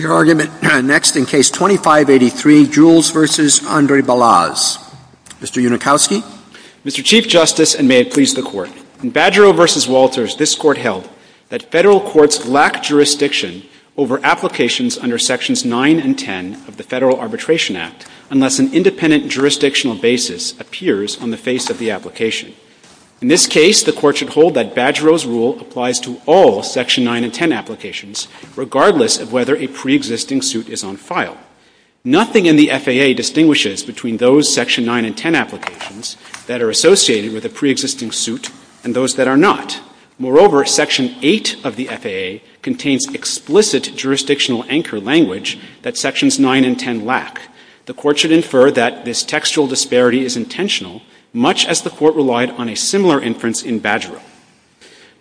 Your argument next in Case 2583, Jules v. Andre Balazs. Mr. Unikowski. Mr. Chief Justice, and may it please the Court, in Badgero v. Walters, this Court held that Federal courts lack jurisdiction over applications under Sections 9 and 10 of the Federal Arbitration Act unless an independent jurisdictional basis appears on the face of the application. In this case, the Court should hold that Badgero's rule applies to all Section 9 and 10 applications, regardless of whether a preexisting suit is on file. Nothing in the FAA distinguishes between those Section 9 and 10 applications that are associated with a preexisting suit and those that are not. Moreover, Section 8 of the FAA contains explicit jurisdictional anchor language that Sections 9 and 10 lack. The Court should infer that this textual disparity is intentional, much as the Court relied on a similar inference in Badgero.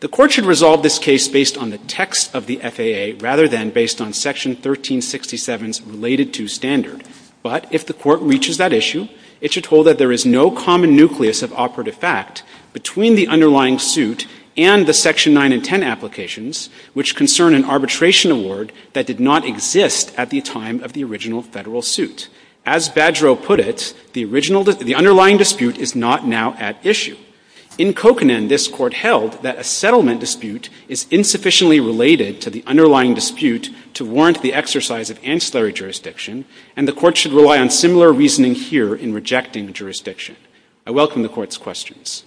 The Court should resolve this case based on the text of the FAA rather than based on Section 1367's related-to standard. But if the Court reaches that issue, it should hold that there is no common nucleus of operative fact between the underlying suit and the Section 9 and 10 applications, which concern an arbitration award that did not exist at the time of the original Federal suit. As Badgero put it, the original — the underlying dispute is not now at issue. In Kokanen, this Court held that a settlement dispute is insufficiently related to the underlying dispute to warrant the exercise of ancillary jurisdiction, and the Court should rely on similar reasoning here in rejecting jurisdiction. I welcome the Court's questions.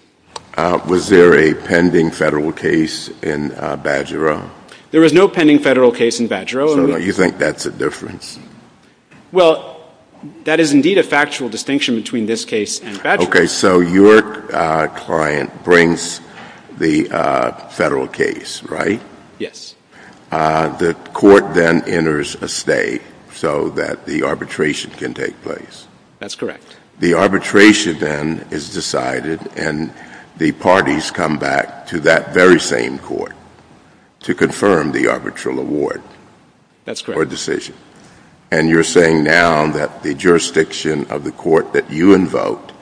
Was there a pending Federal case in Badgero? There was no pending Federal case in Badgero. So you think that's a difference? Well, that is indeed a factual distinction between this case and Badgero. Okay. So your client brings the Federal case, right? Yes. The Court then enters a stay so that the arbitration can take place? That's correct. The arbitration then is decided, and the parties come back to that very same Court to confirm the arbitral award? That's correct. Or decision. And you're saying now that the jurisdiction of the Court that you invoked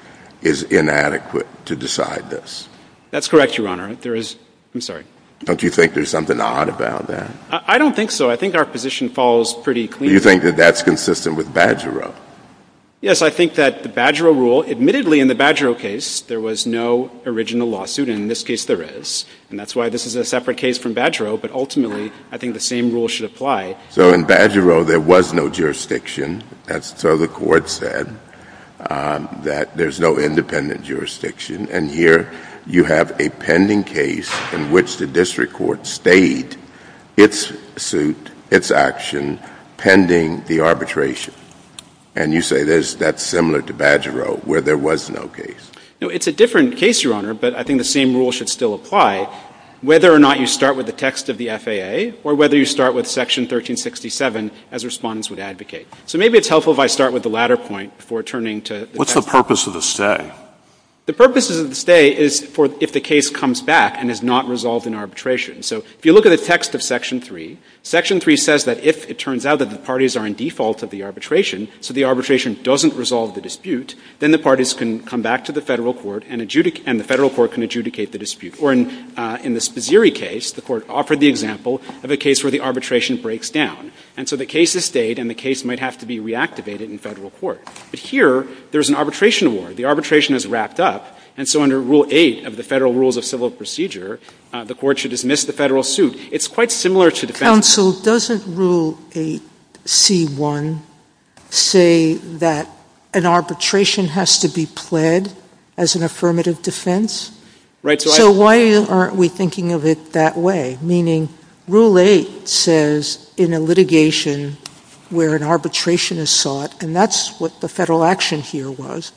is inadequate to decide this? That's correct, Your Honor. There is — I'm sorry. Don't you think there's something odd about that? I don't think so. I think our position falls pretty cleanly. Do you think that that's consistent with Badgero? Yes. I think that the Badgero rule — admittedly, in the Badgero case, there was no original lawsuit, and in this case, there is. And that's why this is a separate case from Badgero, but ultimately, I think the same rule should apply. So in Badgero, there was no jurisdiction, so the Court said that there's no independent jurisdiction. And here, you have a pending case in which the district court stayed its suit, its action pending the arbitration. And you say that's similar to Badgero, where there was no case? No, it's a different case, Your Honor, but I think the same rule should still apply. I think the same rule should still apply, whether or not you start with the text of the FAA or whether you start with Section 1367, as Respondents would advocate. So maybe it's helpful if I start with the latter point before turning to the text. What's the purpose of the stay? The purpose of the stay is for — if the case comes back and is not resolved in arbitration. So if you look at the text of Section 3, Section 3 says that if it turns out that the parties are in default of the arbitration, so the arbitration doesn't resolve the dispute, then the parties can come back to the Federal court and adjudicate the dispute. Or in the Spazzieri case, the Court offered the example of a case where the arbitration breaks down. And so the case is stayed and the case might have to be reactivated in Federal court. But here, there's an arbitration award. The arbitration is wrapped up, and so under Rule 8 of the Federal Rules of Civil Procedure, the Court should dismiss the Federal suit. It's quite similar to defense. Counsel, doesn't Rule 8C1 say that an arbitration has to be pled as an affirmative defense? So why aren't we thinking of it that way? Meaning, Rule 8 says in a litigation where an arbitration is sought, and that's what the Federal action here was.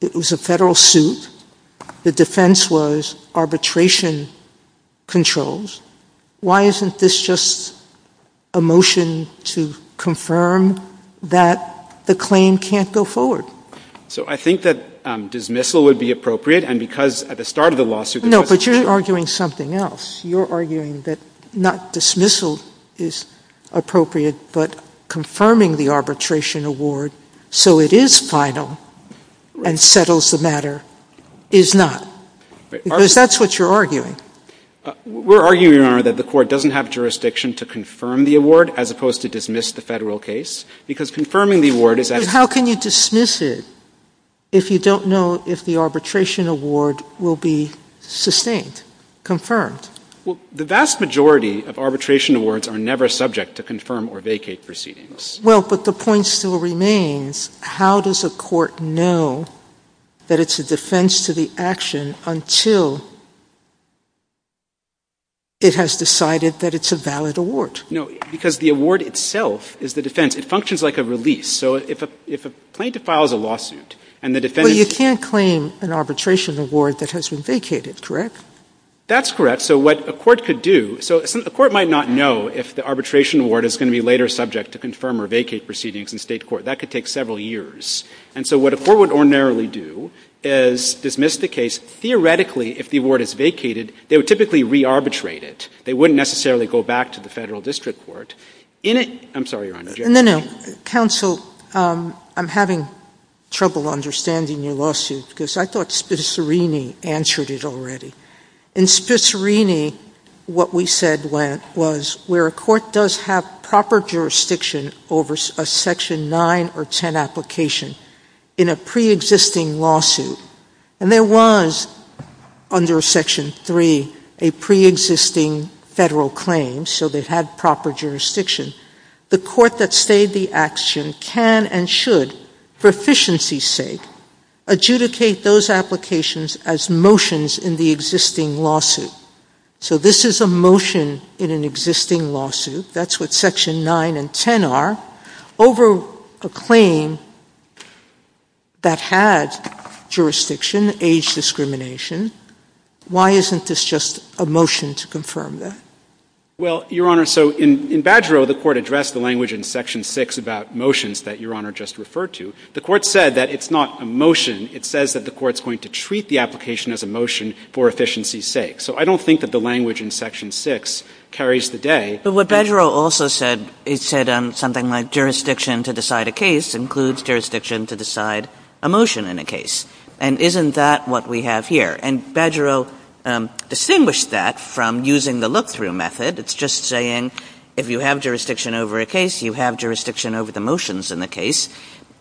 It was a Federal suit. The defense was arbitration controls. Why isn't this just a motion to confirm that the claim can't go forward? So I think that dismissal would be appropriate, and because at the start of the lawsuit No, but you're arguing something else. You're arguing that not dismissal is appropriate, but confirming the arbitration award so it is final and settles the matter is not. Because that's what you're arguing. We're arguing, Your Honor, that the Court doesn't have jurisdiction to confirm the award as opposed to dismiss the Federal case because confirming the award is How can you dismiss it if you don't know if the arbitration award will be sustained, Well, the vast majority of arbitration awards are never subject to confirm or vacate proceedings. Well, but the point still remains, how does a court know that it's a defense to the It has decided that it's a valid award. No, because the award itself is the defense. It functions like a release. So if a plaintiff files a lawsuit and the defense Well, you can't claim an arbitration award that has been vacated, correct? That's correct. So what a court could do, so a court might not know if the arbitration award is going to be later subject to confirm or vacate proceedings in State court. That could take several years. And so what a court would ordinarily do is dismiss the case theoretically if the award is vacated, they would typically re-arbitrate it. They wouldn't necessarily go back to the Federal district court. I'm sorry, Your Honor. No, no. Counsel, I'm having trouble understanding your lawsuit because I thought Spicerini answered it already. In Spicerini, what we said was where a court does have proper jurisdiction over a Section 9 or 10 application in a pre-existing lawsuit. And there was under Section 3 a pre-existing Federal claim, so they had proper jurisdiction. The court that stayed the action can and should, for efficiency's sake, adjudicate those applications as motions in the existing lawsuit. So this is a motion in an existing lawsuit. That's what Section 9 and 10 are. Over a claim that had jurisdiction, age discrimination, why isn't this just a motion to confirm that? Well, Your Honor, so in Badgerill, the court addressed the language in Section 6 about motions that Your Honor just referred to. The court said that it's not a motion. It says that the court's going to treat the application as a motion for efficiency's sake. So I don't think that the language in Section 6 carries the day. But what Badgerill also said, it said something like jurisdiction to decide a case includes jurisdiction to decide a motion in a case. And isn't that what we have here? And Badgerill distinguished that from using the look-through method. It's just saying if you have jurisdiction over a case, you have jurisdiction over the motions in the case.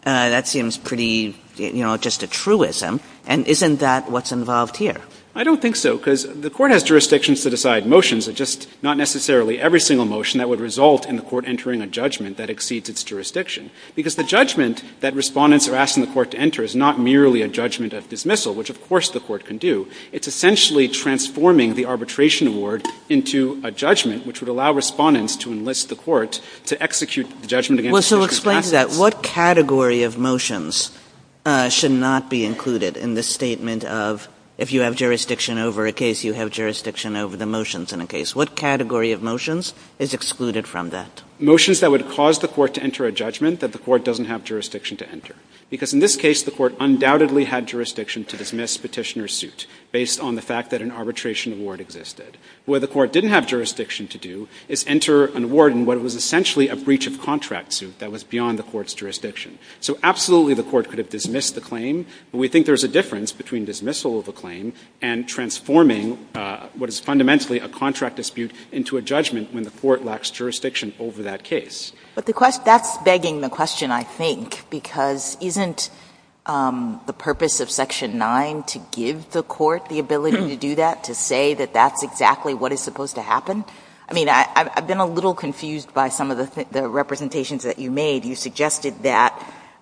That seems pretty, you know, just a truism. And isn't that what's involved here? I don't think so, because the court has jurisdictions to decide motions. It's just not necessarily every single motion that would result in the court entering a judgment that exceeds its jurisdiction. Because the judgment that Respondents are asked in the court to enter is not merely a judgment of dismissal, which of course the court can do. It's essentially transforming the arbitration award into a judgment which would allow Respondents to enlist the court to execute the judgment against a case with Well, so explain to that. What category of motions should not be included in the statement of if you have jurisdiction over the motions in a case? What category of motions is excluded from that? Motions that would cause the court to enter a judgment that the court doesn't have jurisdiction to enter. Because in this case, the court undoubtedly had jurisdiction to dismiss Petitioner's suit based on the fact that an arbitration award existed. What the court didn't have jurisdiction to do is enter an award in what was essentially a breach of contract suit that was beyond the court's jurisdiction. So absolutely the court could have dismissed the claim, but we think there's a difference between dismissal of a claim and transforming what is fundamentally a contract dispute into a judgment when the court lacks jurisdiction over that case. But the question — that's begging the question, I think, because isn't the purpose of Section 9 to give the court the ability to do that, to say that that's exactly what is supposed to happen? I mean, I've been a little confused by some of the representations that you made. You suggested that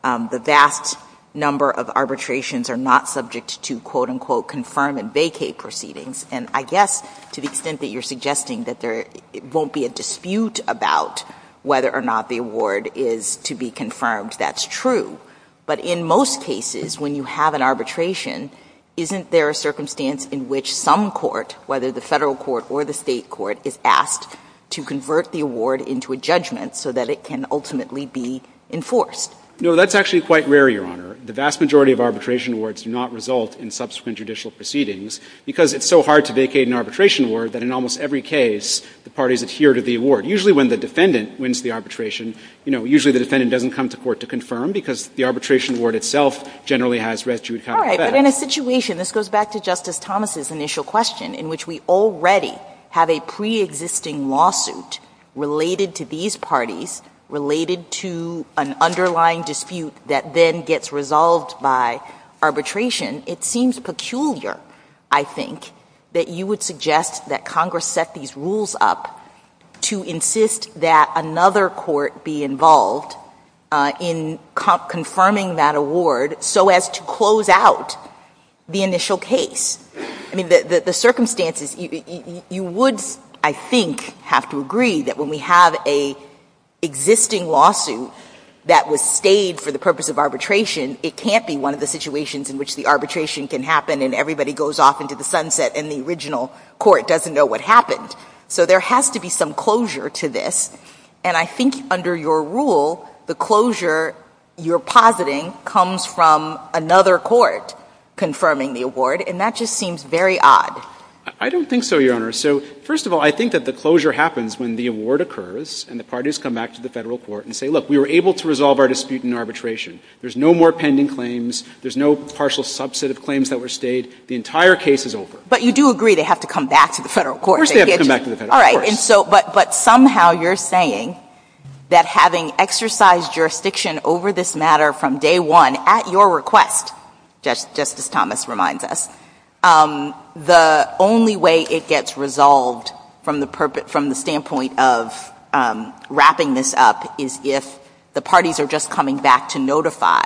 the vast number of arbitrations are not subject to, quote, unquote, confirm and vacate proceedings. And I guess to the extent that you're suggesting that there won't be a dispute about whether or not the award is to be confirmed, that's true. But in most cases, when you have an arbitration, isn't there a circumstance in which some court, whether the Federal court or the State court, is asked to convert the award into a judgment so that it can ultimately be enforced? No. That's actually quite rare, Your Honor. The vast majority of arbitration awards do not result in subsequent judicial proceedings because it's so hard to vacate an arbitration award that in almost every case, the parties adhere to the award. Usually when the defendant wins the arbitration, you know, usually the defendant doesn't come to court to confirm because the arbitration award itself generally has res judicata. All right. But in a situation — this goes back to Justice Thomas' initial question, in which we already have a preexisting lawsuit related to these parties, related to an underlying dispute that then gets resolved by arbitration, it seems peculiar, I think, that you would suggest that Congress set these rules up to insist that another court be involved in confirming that award so as to close out the initial case. I mean, the circumstances — you would, I think, have to agree that when we have an existing lawsuit that was stayed for the purpose of arbitration, it can't be one of the situations in which the arbitration can happen and everybody goes off into the sunset and the original court doesn't know what happened. So there has to be some closure to this. And I think under your rule, the closure you're positing comes from another court confirming the award, and that just seems very odd. I don't think so, Your Honor. So, first of all, I think that the closure happens when the award occurs and the parties come back to the Federal court and say, look, we were able to resolve our dispute in arbitration. There's no more pending claims. There's no partial subset of claims that were stayed. The entire case is over. But you do agree they have to come back to the Federal court. Of course they have to come back to the Federal court. All right. But somehow you're saying that having exercised jurisdiction over this matter from day one, at your request, Justice Thomas reminds us, the only way it gets resolved from the standpoint of wrapping this up is if the parties are just coming back to notify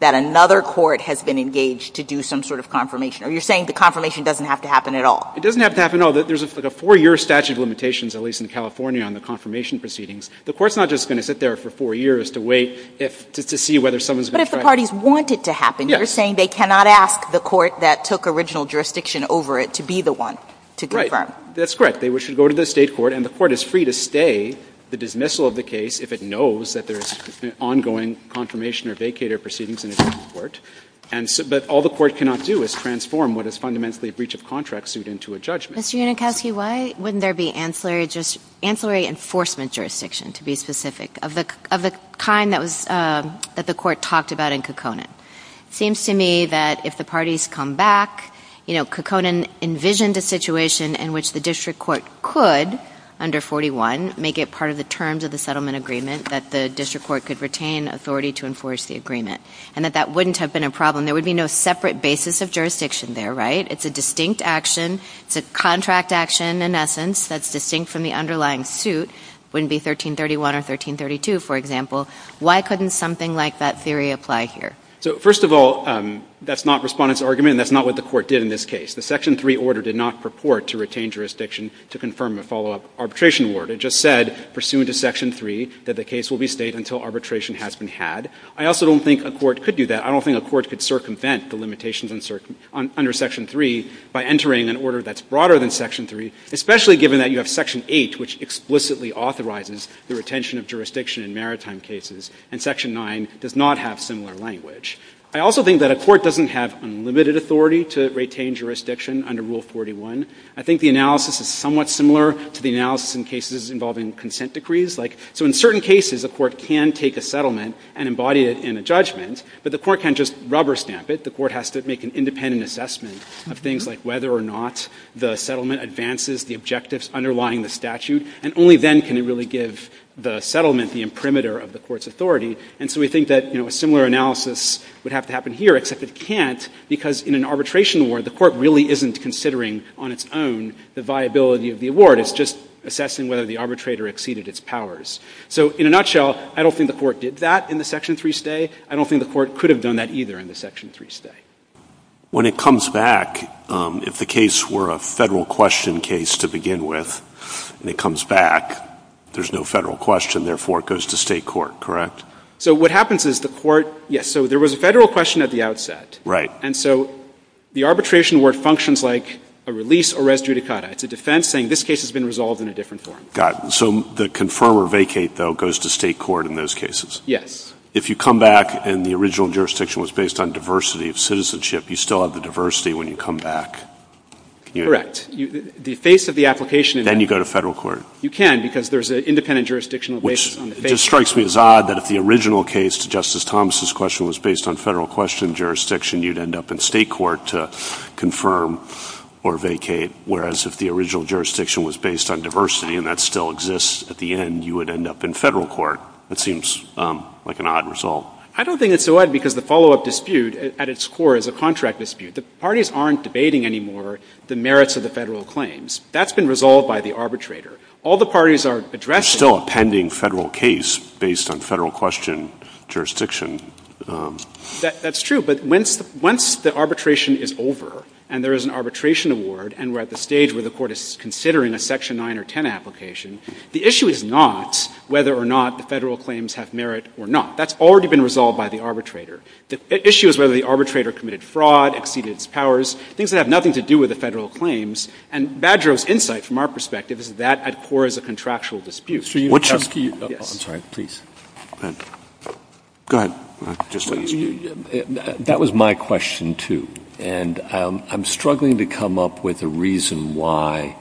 that another court has been engaged to do some sort of confirmation. Are you saying the confirmation doesn't have to happen at all? It doesn't have to happen at all. There's a four-year statute of limitations, at least in California, on the confirmation proceedings. The Court's not just going to sit there for four years to wait to see whether someone is going to try to do something. But if the parties want it to happen, you're saying they cannot ask the court that took original jurisdiction over it to be the one to confirm. That's correct. They should go to the State court, and the court is free to stay the dismissal of the case if it knows that there's ongoing confirmation or vacator proceedings in a different court. But all the court cannot do is transform what is fundamentally a breach of contract suit into a judgment. Mr. Unikowski, why wouldn't there be ancillary enforcement jurisdiction, to be specific, of the kind that the Court talked about in Kekonan? It seems to me that if the parties come back, you know, Kekonan envisioned a situation in which the district court could, under 41, make it part of the terms of the settlement agreement that the district court could retain authority to enforce the agreement, and that that wouldn't have been a problem. There would be no separate basis of jurisdiction there, right? It's a distinct action. It's a contract action, in essence, that's distinct from the underlying suit. It wouldn't be 1331 or 1332, for example. Why couldn't something like that theory apply here? So, first of all, that's not Respondent's argument, and that's not what the Court did in this case. The Section 3 order did not purport to retain jurisdiction to confirm a follow-up arbitration award. It just said, pursuant to Section 3, that the case will be stayed until arbitration has been had. I also don't think a court could do that. I don't think a court could circumvent the limitations under Section 3 by entering an order that's broader than Section 3, especially given that you have Section 8, which explicitly authorizes the retention of jurisdiction in maritime cases, and Section 9 does not have similar language. I also think that a court doesn't have unlimited authority to retain jurisdiction under Rule 41. I think the analysis is somewhat similar to the analysis in cases involving consent decrees. Like, so in certain cases, a court can take a settlement and embody it in a judgment, but the court can't just rubber stamp it. The court has to make an independent assessment of things like whether or not the settlement advances the objectives underlying the statute, and only then can it really give the settlement the imprimatur of the court's authority. And so we think that, you know, a similar analysis would have to happen here, except it can't, because in an arbitration award, the court really isn't considering on its own the viability of the award. It's just assessing whether the arbitrator exceeded its powers. So in a nutshell, I don't think the Court did that in the Section 3 stay. I don't think the Court could have done that either in the Section 3 stay. When it comes back, if the case were a Federal question case to begin with, and it comes back, there's no Federal question, therefore it goes to State court, correct? So what happens is the court, yes, so there was a Federal question at the outset. Right. And so the arbitration award functions like a release or res judicata. It's a defense saying this case has been resolved in a different form. Got it. So the confirm or vacate, though, goes to State court in those cases? Yes. If you come back and the original jurisdiction was based on diversity of citizenship, you still have the diversity when you come back. Correct. The face of the application in that case. Then you go to Federal court. You can, because there's an independent jurisdictional basis on the face. Which just strikes me as odd that if the original case to Justice Thomas' question was based on Federal question jurisdiction, you'd end up in State court to confirm or vacate, whereas if the original jurisdiction was based on diversity and that still exists at the end, you would end up in Federal court. That seems like an odd result. I don't think it's odd because the follow-up dispute at its core is a contract dispute. The parties aren't debating any more the merits of the Federal claims. That's been resolved by the arbitrator. All the parties are addressing — There's still a pending Federal case based on Federal question jurisdiction. That's true. But once the arbitration is over and there is an arbitration award and we're at the stage where the court is considering a Section 9 or 10 application, the issue is not whether or not the Federal claims have merit or not. That's already been resolved by the arbitrator. The issue is whether the arbitrator committed fraud, exceeded its powers, things that have nothing to do with the Federal claims. And Badreau's insight from our perspective is that at core is a contractual dispute. I'm sorry. Please. Go ahead. That was my question, too. And I'm struggling to come up with a reason why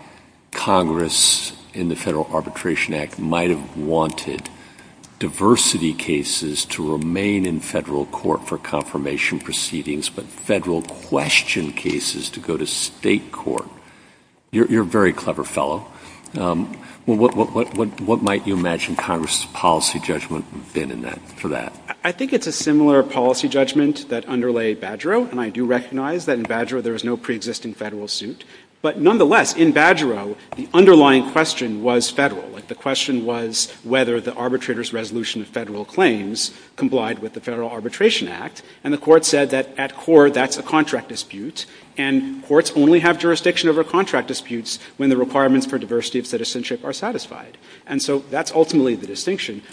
Congress in the Federal Arbitration Act might have wanted diversity cases to remain in Federal court for confirmation proceedings, but Federal question cases to go to State court. You're a very clever fellow. What might you imagine Congress's policy judgment would have been for that? I think it's a similar policy judgment that underlay Badreau, and I do recognize that in Badreau there is no preexisting Federal suit. But nonetheless, in Badreau, the underlying question was Federal. The question was whether the arbitrator's resolution of Federal claims complied with the Federal Arbitration Act. And the Court said that at core that's a contract dispute. And courts only have jurisdiction over contract disputes when the requirements for diversity of citizenship are satisfied. And so that's ultimately the distinction.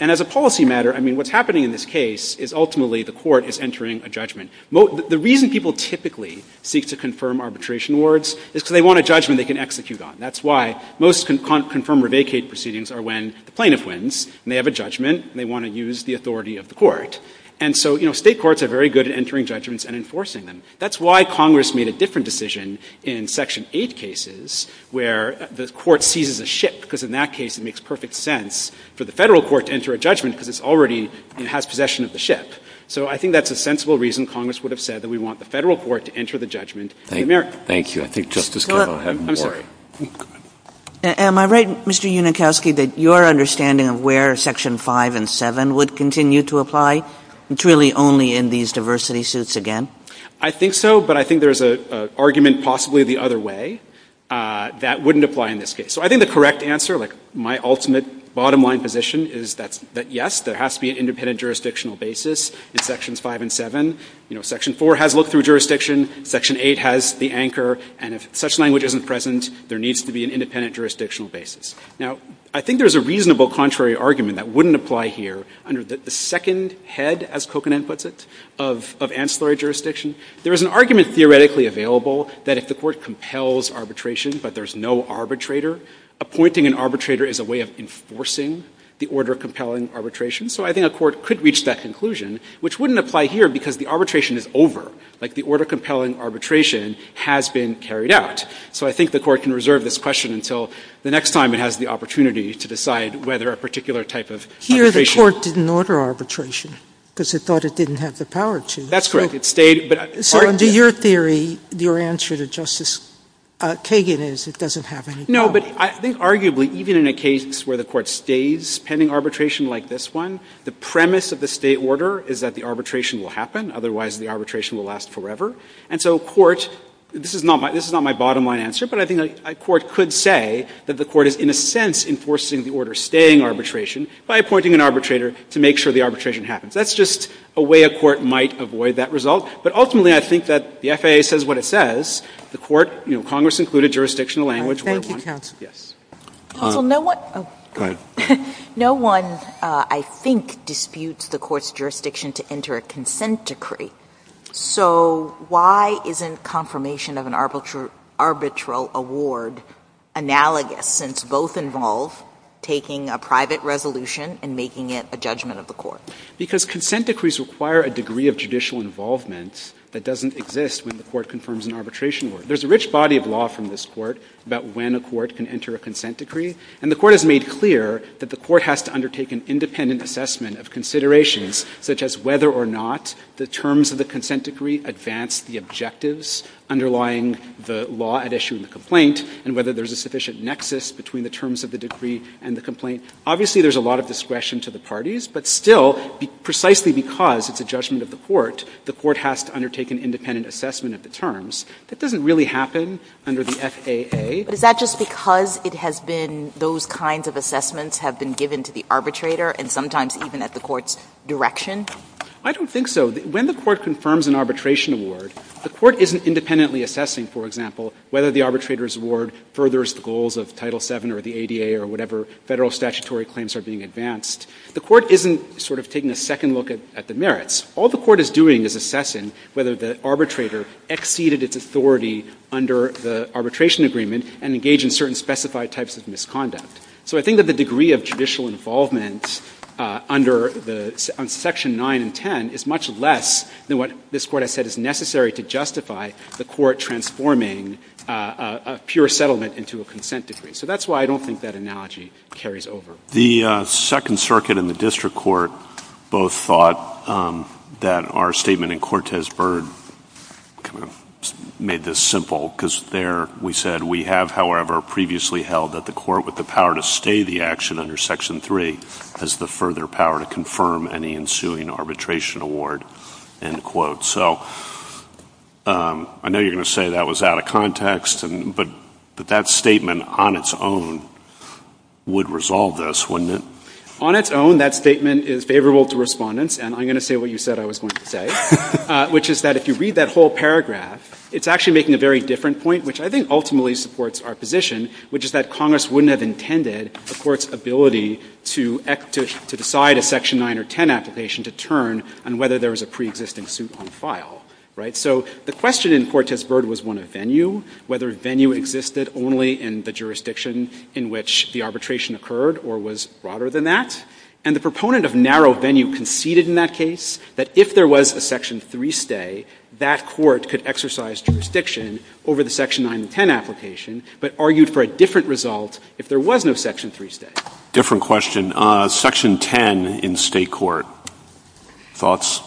And as a policy matter, I mean, what's happening in this case is ultimately the Court is entering a judgment. The reason people typically seek to confirm arbitration awards is because they want a judgment they can execute on. That's why most confirm or vacate proceedings are when the plaintiff wins, and they have a judgment, and they want to use the authority of the Court. And so, you know, State courts are very good at entering judgments and enforcing them. That's why Congress made a different decision in Section 8 cases where the Court seizes a ship, because in that case it makes perfect sense for the Federal court to enter a judgment because it already has possession of the ship. So I think that's a sensible reason Congress would have said that we want the Federal court to enter the judgment in America. Thank you. I think Justice Kagan will have more. Go ahead. Am I right, Mr. Unikowski, that your understanding of where Section 5 and 7 would continue to apply? It's really only in these diversity suits again? I think so, but I think there's an argument possibly the other way that wouldn't apply in this case. So I think the correct answer, like my ultimate bottom line position is that yes, there has to be an independent jurisdictional basis in Sections 5 and 7. You know, Section 4 has look-through jurisdiction. Section 8 has the anchor. And if such language isn't present, there needs to be an independent jurisdictional basis. Now, I think there's a reasonable contrary argument that wouldn't apply here under the second head, as Kokanen puts it, of ancillary jurisdiction. There is an argument theoretically available that if the Court compels arbitration but there's no arbitrator, appointing an arbitrator is a way of enforcing the order compelling arbitration. So I think a court could reach that conclusion, which wouldn't apply here because the arbitration is over, like the order compelling arbitration has been carried out. So I think the Court can reserve this question until the next time it has the opportunity to decide whether a particular type of arbitration. Here the Court didn't order arbitration because it thought it didn't have the power to. That's correct. It stayed, but I argue. So under your theory, your answer to Justice Kagan is it doesn't have any power. No, but I think arguably even in a case where the Court stays pending arbitration like this one, the premise of the stay order is that the arbitration will happen, otherwise the arbitration will last forever. And so a court, this is not my bottom line answer, but I think a court could say that the Court is in a sense enforcing the order staying arbitration by appointing an arbitrator to make sure the arbitration happens. That's just a way a court might avoid that result. But ultimately I think that the FAA says what it says. The Court, you know, Congress included jurisdictional language where it wanted the arbitration to happen. Counsel, no one. Go ahead. No one, I think, disputes the Court's jurisdiction to enter a consent decree. So why isn't confirmation of an arbitral award analogous since both involve taking a private resolution and making it a judgment of the Court? Because consent decrees require a degree of judicial involvement that doesn't exist when the Court confirms an arbitration order. There is a rich body of law from this Court about when a court can enter a consent decree. And the Court has made clear that the Court has to undertake an independent assessment of considerations such as whether or not the terms of the consent decree advance the objectives underlying the law at issue in the complaint and whether there is a sufficient nexus between the terms of the decree and the Obviously there is a lot of discretion to the parties, but still precisely because it's a judgment of the Court, the Court has to undertake an independent assessment of the terms. That doesn't really happen under the FAA. But is that just because it has been those kinds of assessments have been given to the arbitrator and sometimes even at the Court's direction? I don't think so. When the Court confirms an arbitration award, the Court isn't independently assessing, for example, whether the arbitrator's award furthers the goals of Title VII or the ADA or whatever Federal statutory claims are being advanced. The Court isn't sort of taking a second look at the merits. All the Court is doing is assessing whether the arbitrator exceeded its authority under the arbitration agreement and engaged in certain specified types of misconduct. So I think that the degree of judicial involvement under the Section 9 and 10 is much less than what this Court has said is necessary to justify the Court transforming a pure settlement into a consent decree. So that's why I don't think that analogy carries over. The Second Circuit and the District Court both thought that our statement in Cortes-Byrd kind of made this simple because there we said, we have, however, previously held that the Court with the power to stay the action under Section 3 has the further power to confirm any ensuing arbitration award. So I know you're going to say that was out of context, but that statement on its own would resolve this, wouldn't it? On its own, that statement is favorable to Respondents, and I'm going to say what you said I was going to say, which is that if you read that whole paragraph, it's actually making a very different point, which I think ultimately supports our position, which is that Congress wouldn't have intended the Court's ability to decide a Section 9 or 10 application to turn on whether there was a preexisting suit on file, right? So the question in Cortes-Byrd was one of venue, whether venue existed only in the jurisdiction in which the arbitration occurred or was broader than that. And the proponent of narrow venue conceded in that case that if there was a Section 3 stay, that Court could exercise jurisdiction over the Section 9 and 10 application but argued for a different result if there was no Section 3 stay. Different question. Section 10 in State court. Thoughts?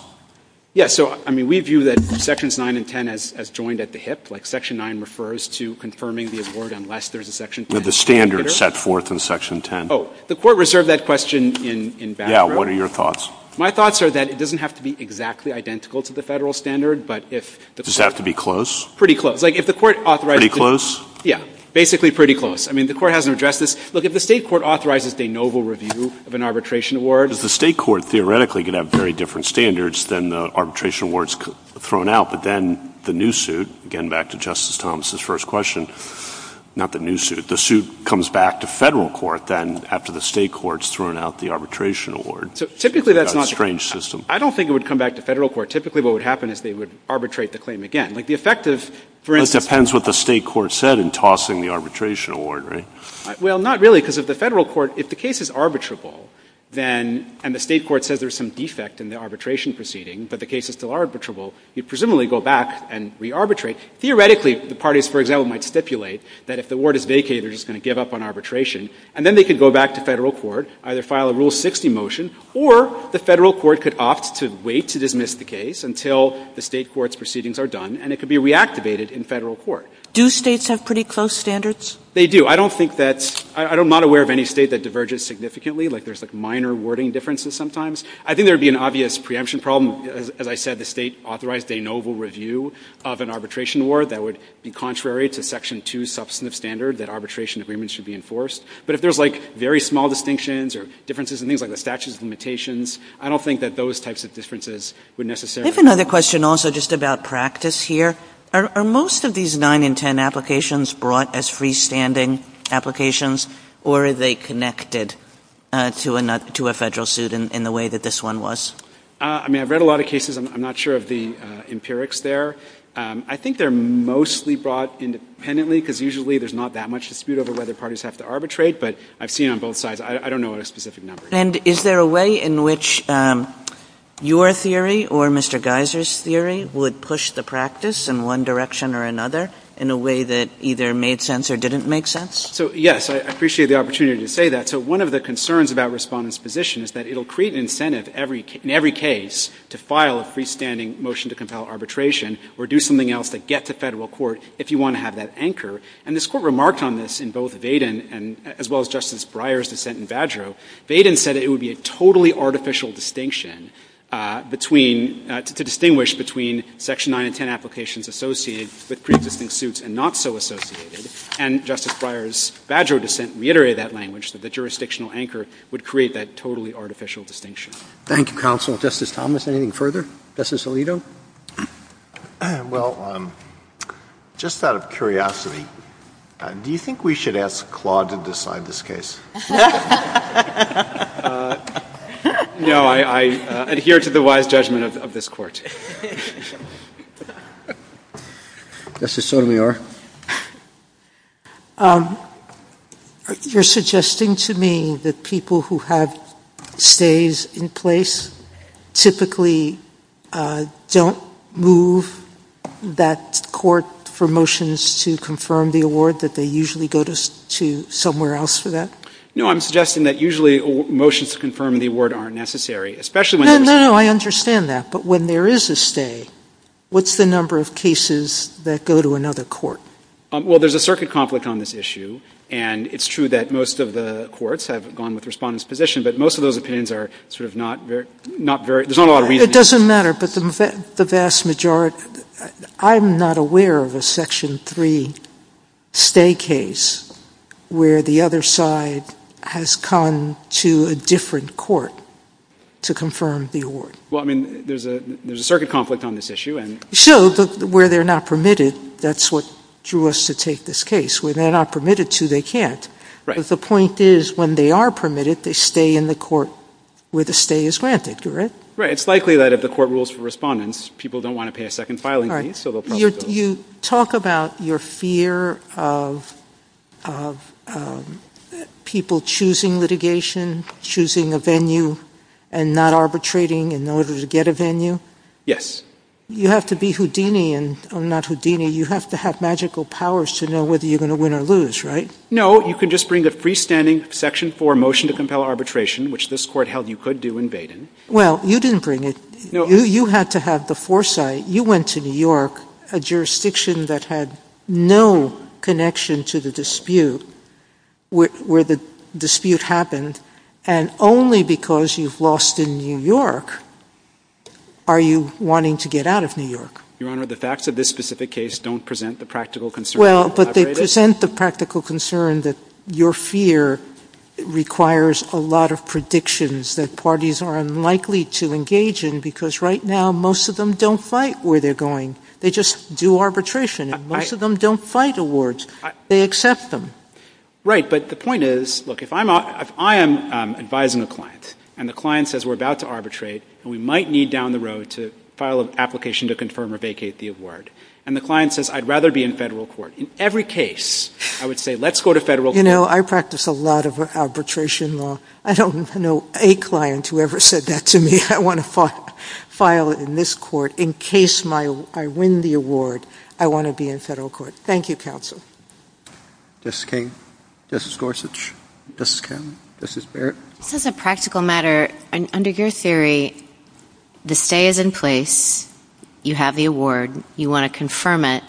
Yes. So, I mean, we view that Sections 9 and 10 as joined at the hip, like Section 9 refers to confirming the award unless there's a Section 10. The standard set forth in Section 10. The Court reserved that question in background. Yes. What are your thoughts? My thoughts are that it doesn't have to be exactly identical to the Federal standard, but if the Court. Does it have to be close? Pretty close. Like, if the Court authorizes. Pretty close? Yes. Basically pretty close. I mean, the Court hasn't addressed this. Look, if the State court authorizes de novo review of an arbitration award. The State court theoretically could have very different standards than the arbitration awards thrown out, but then the new suit, again back to Justice Thomas' first question, not the new suit. The suit comes back to Federal court then after the State court's thrown out the arbitration award. So typically that's not. It's a strange system. I don't think it would come back to Federal court. Typically what would happen is they would arbitrate the claim again. Like the effect of, for instance. That depends what the State court said in tossing the arbitration award, right? Well, not really, because if the Federal court, if the case is arbitrable, then, and the State court says there's some defect in the arbitration proceeding, but the case is still arbitrable, you'd presumably go back and re-arbitrate. Theoretically, the parties, for example, might stipulate that if the award is vacated, they're just going to give up on arbitration. And then they could go back to Federal court, either file a Rule 60 motion, or the Federal court could opt to wait to dismiss the case until the State court's proceedings are done, and it could be reactivated in Federal court. Do States have pretty close standards? They do. I don't think that's, I'm not aware of any State that diverges significantly. Like there's like minor wording differences sometimes. I think there would be an obvious preemption problem. As I said, the State authorized a novel review of an arbitration award that would be contrary to Section 2 substantive standard that arbitration agreements should be enforced. But if there's like very small distinctions or differences in things like the statute of limitations, I don't think that those types of differences would necessarily be. I have another question also just about practice here. Are most of these 9 and 10 applications brought as freestanding applications, or are they connected to a Federal suit in the way that this one was? I mean, I've read a lot of cases. I'm not sure of the empirics there. I think they're mostly brought independently, because usually there's not that much dispute over whether parties have to arbitrate. But I've seen it on both sides. I don't know what a specific number is. And is there a way in which your theory or Mr. Geiser's theory would push the practice in one direction or another in a way that either made sense or didn't make sense? So, yes, I appreciate the opportunity to say that. So one of the concerns about Respondent's position is that it will create an incentive in every case to file a freestanding motion to compel arbitration or do something else to get to Federal court if you want to have that anchor. And this Court remarked on this in both Vaden and as well as Justice Breyer's dissent in Badgerow. Vaden said it would be a totally artificial distinction between to distinguish between Section 9 and 10 applications associated with preexisting suits and not so associated and Justice Breyer's Badgerow dissent reiterated that language, that the jurisdictional anchor would create that totally artificial distinction. Thank you, counsel. Justice Thomas, anything further? Justice Alito? Well, just out of curiosity, do you think we should ask Claude to decide this case? No, I adhere to the wise judgment of this Court. Justice Sotomayor. You're suggesting to me that people who have stays in place typically don't move that court for motions to confirm the award, that they usually go to somewhere else for No, I'm suggesting that usually motions to confirm the award aren't necessary, especially when there's a stay. No, no, no, I understand that. But when there is a stay, what's the number of cases that go to another court? Well, there's a circuit conflict on this issue, and it's true that most of the courts have gone with the Respondent's position, but most of those opinions are sort of not very — there's not a lot of reasoning. It doesn't matter, but the vast majority — I'm not aware of a Section 3 stay case where the other side has come to a different court to confirm the award. Well, I mean, there's a circuit conflict on this issue, and — So where they're not permitted, that's what drew us to take this case. Where they're not permitted to, they can't. Right. But the point is, when they are permitted, they stay in the court where the stay is granted, correct? Right. It's likely that if the Court rules for Respondents, people don't want to pay a second filing fee, so they'll probably go — All right. You talk about your fear of people choosing litigation, choosing a venue, and not arbitrating in order to get a venue. Yes. You have to be Houdini and — not Houdini. You have to have magical powers to know whether you're going to win or lose, right? No. You can just bring a freestanding Section 4 motion to compel arbitration, which this Court held you could do in Baden. Well, you didn't bring it. No. You had to have the foresight. You went to New York, a jurisdiction that had no connection to the dispute, where the dispute happened, and only because you've lost in New York are you wanting to get out of New York. Your Honor, the facts of this specific case don't present the practical concern. Well, but they present the practical concern that your fear requires a lot of predictions that parties are unlikely to engage in, because right now, most of them don't fight where they're going. They just do arbitration, and most of them don't fight awards. They accept them. Right. But the point is, look, if I am advising a client, and the client says, we're about to arbitrate, and we might need down the road to file an application to confirm or vacate the award, and the client says, I'd rather be in Federal court, in every case, I would say, let's go to Federal court. You know, I practice a lot of arbitration law. I don't know a client who ever said that to me. I want to file in this court. In case I win the award, I want to be in Federal court. Thank you, counsel. Justice King. Justice Gorsuch. Justice Kennedy. Justice Barrett. Just as a practical matter, under your theory, the stay is in place. You have the award. You want to confirm it.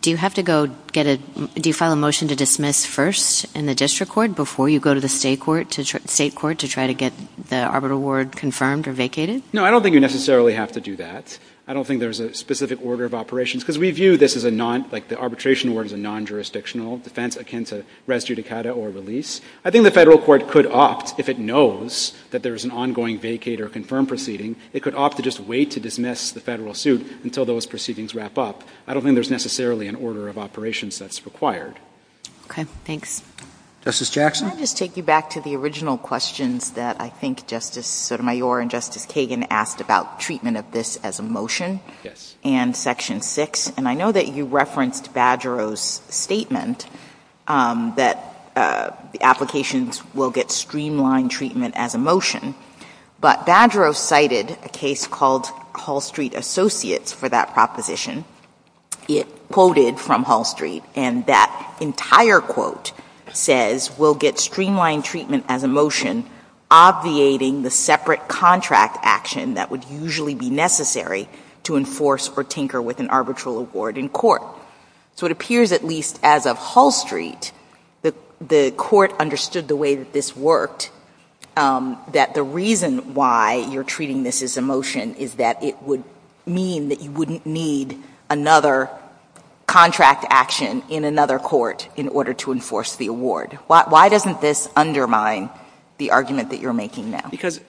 Do you have to go get a, do you file a motion to dismiss first in the district court before you go to the state court to try to get the arbitral award confirmed or vacated? No, I don't think you necessarily have to do that. I don't think there's a specific order of operations, because we view this as a non, like the arbitration award is a non-jurisdictional defense akin to res judicata or release. I think the Federal court could opt, if it knows that there is an ongoing vacate or confirmed proceeding, it could opt to just wait to dismiss the Federal suit until those proceedings wrap up. I don't think there's necessarily an order of operations that's required. Okay. Thanks. Justice Jackson. Can I just take you back to the original questions that I think Justice Sotomayor and Justice Kagan asked about treatment of this as a motion? Yes. And section 6, and I know that you referenced Badgerow's statement that the applications will get streamlined treatment as a motion. But Badgerow cited a case called Hall Street Associates for that proposition. It quoted from Hall Street, and that entire quote says we'll get streamlined treatment as a motion obviating the separate contract action that would usually be necessary to enforce or tinker with an arbitral award in court. So it appears at least as of Hall Street, the court understood the way that this worked, that the reason why you're treating this as a motion is that it would mean that you wouldn't need another contract action in another court in order to enforce the award. Why doesn't this undermine the argument that you're making now? Because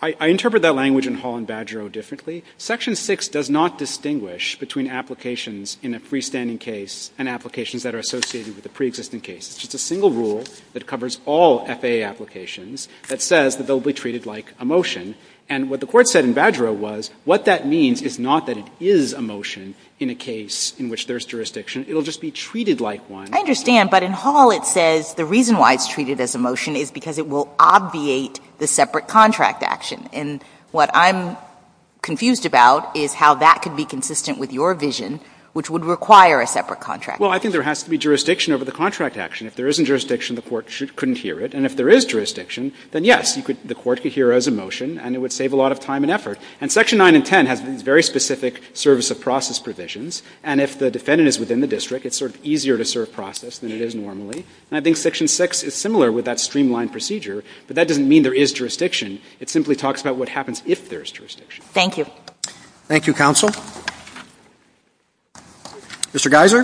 I interpret that language in Hall and Badgerow differently. Section 6 does not distinguish between applications in a freestanding case and applications that are associated with a preexisting case. It's just a single rule that covers all FAA applications that says that they'll be treated like a motion. And what the Court said in Badgerow was what that means is not that it is a motion in a case in which there is jurisdiction. It will just be treated like one. I understand. But in Hall it says the reason why it's treated as a motion is because it will obviate the separate contract action. And what I'm confused about is how that could be consistent with your vision, which would require a separate contract action. Well, I think there has to be jurisdiction over the contract action. If there isn't jurisdiction, the Court couldn't hear it. And if there is jurisdiction, then yes, the Court could hear it as a motion and it would save a lot of time and effort. And Section 9 and 10 has these very specific service of process provisions. And if the defendant is within the district, it's sort of easier to serve process than it is normally. And I think Section 6 is similar with that streamlined procedure, but that doesn't mean there is jurisdiction. It simply talks about what happens if there is jurisdiction. Thank you. Roberts. Thank you, counsel. Mr. Geiser.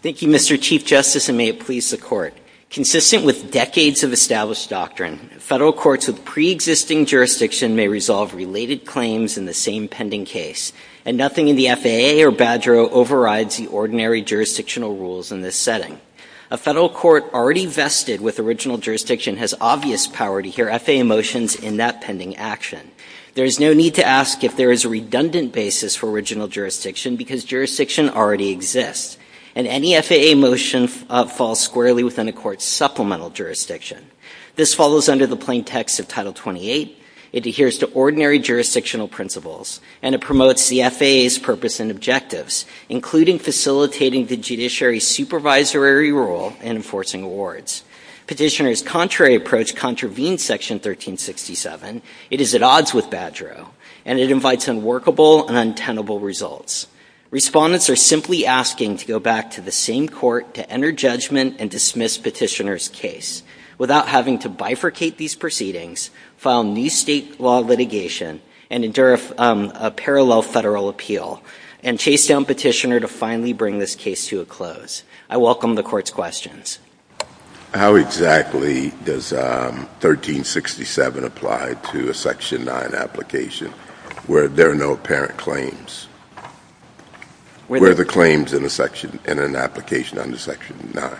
Thank you, Mr. Chief Justice, and may it please the Court. Consistent with decades of established doctrine, Federal courts with preexisting jurisdiction may resolve related claims in the same pending case, and nothing in the FAA or Badgerow overrides the ordinary jurisdictional rules in this setting. A Federal court already vested with original jurisdiction has obvious power to hear FAA motions in that pending action. There is no need to ask if there is a redundant basis for original jurisdiction because jurisdiction already exists. And any FAA motion falls squarely within a court's supplemental jurisdiction. This follows under the plain text of Title 28. It adheres to ordinary jurisdictional principles, and it promotes the FAA's purpose and objectives, including facilitating the judiciary's supervisory role in enforcing awards. Petitioner's contrary approach contravenes Section 1367. It is at odds with Badgerow, and it invites unworkable and untenable results. Respondents are simply asking to go back to the same court to enter judgment and dismiss petitioner's case without having to bifurcate these proceedings, file new state law litigation, and endure a parallel Federal appeal, and chase down petitioner to finally bring this case to a close. I welcome the Court's questions. How exactly does 1367 apply to a Section 9 application where there are no apparent claims? Where are the claims in a section, in an application under Section 9?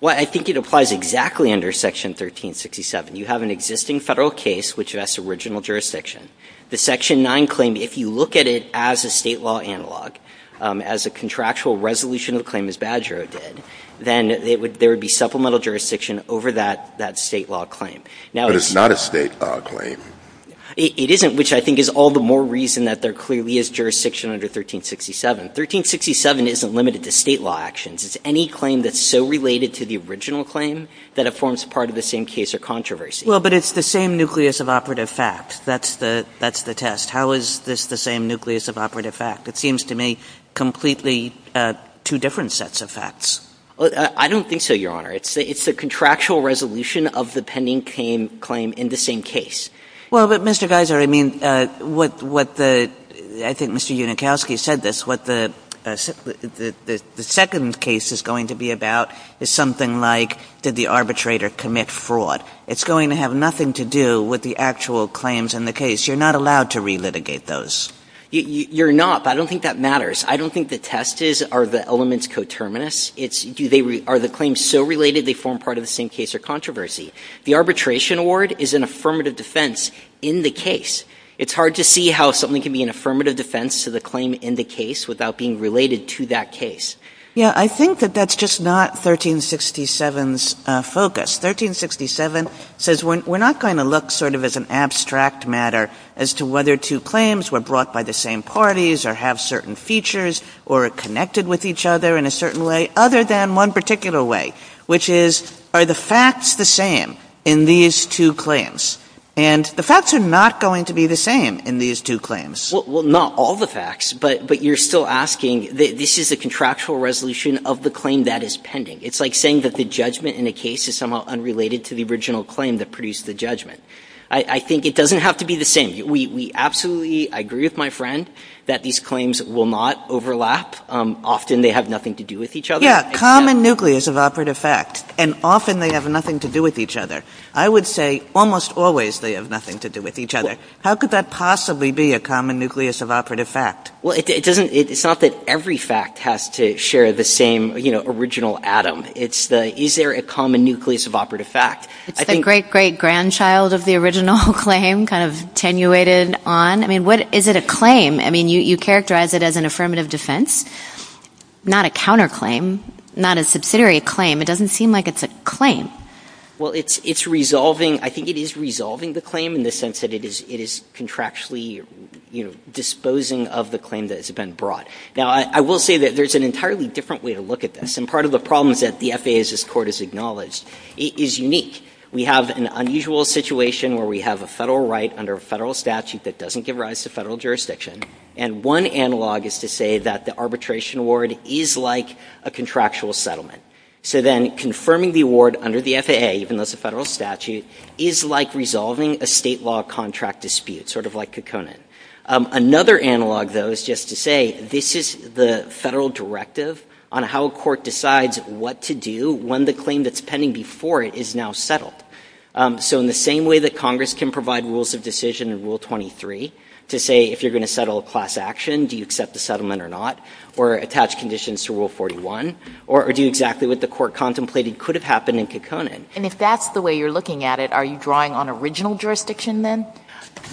Well, I think it applies exactly under Section 1367. You have an existing Federal case which has original jurisdiction. The Section 9 claim, if you look at it as a State law analog, as a contractual resolution of the claim as Badgerow did, then there would be supplemental jurisdiction over that State law claim. But it's not a State law claim. It isn't, which I think is all the more reason that there clearly is jurisdiction under 1367. 1367 isn't limited to State law actions. It's any claim that's so related to the original claim that it forms part of the same case or controversy. Well, but it's the same nucleus of operative fact. That's the test. How is this the same nucleus of operative fact? It seems to me completely two different sets of facts. I don't think so, Your Honor. It's the contractual resolution of the pending claim in the same case. Well, but, Mr. Geiser, I mean, what the – I think Mr. Unikowsky said this. What the second case is going to be about is something like did the arbitrator commit fraud. It's going to have nothing to do with the actual claims in the case. You're not allowed to relitigate those. You're not, but I don't think that matters. I don't think the test is are the elements coterminous. It's do they – are the claims so related they form part of the same case or controversy. The arbitration award is an affirmative defense in the case. It's hard to see how something can be an affirmative defense to the claim in the case without being related to that case. Yeah, I think that that's just not 1367's focus. 1367 says we're not going to look sort of as an abstract matter as to whether two claims were brought by the same parties or have certain features or are connected with each other in a certain way, other than one particular way, which is are the facts the same in these two claims. And the facts are not going to be the same in these two claims. Well, not all the facts, but you're still asking this is a contractual resolution of the claim that is pending. It's like saying that the judgment in a case is somehow unrelated to the original claim that produced the judgment. I think it doesn't have to be the same. We absolutely agree with my friend that these claims will not overlap. Often they have nothing to do with each other. Yeah, common nucleus of operative fact, and often they have nothing to do with each other. I would say almost always they have nothing to do with each other. How could that possibly be a common nucleus of operative fact? Well, it's not that every fact has to share the same original atom. It's the is there a common nucleus of operative fact? It's the great, great grandchild of the original claim kind of attenuated on. I mean, is it a claim? I mean, you characterize it as an affirmative defense, not a counterclaim, not a subsidiary claim. It doesn't seem like it's a claim. Well, it's resolving. I think it is resolving the claim in the sense that it is contractually disposing of the claim that has been brought. Now, I will say that there's an entirely different way to look at this. And part of the problem is that the FAA's court has acknowledged it is unique. We have an unusual situation where we have a Federal right under a Federal statute that doesn't give rise to Federal jurisdiction. And one analog is to say that the arbitration award is like a contractual settlement. So then confirming the award under the FAA, even though it's a Federal statute, is like resolving a State law contract dispute, sort of like Kekkonen. Another analog, though, is just to say this is the Federal directive on how a court decides what to do when the claim that's pending before it is now settled. So in the same way that Congress can provide rules of decision in Rule 23 to say if you're going to settle a class action, do you accept the settlement or not, or attach conditions to Rule 41, or do exactly what the court contemplated could have happened in Kekkonen. And if that's the way you're looking at it, are you drawing on original jurisdiction then?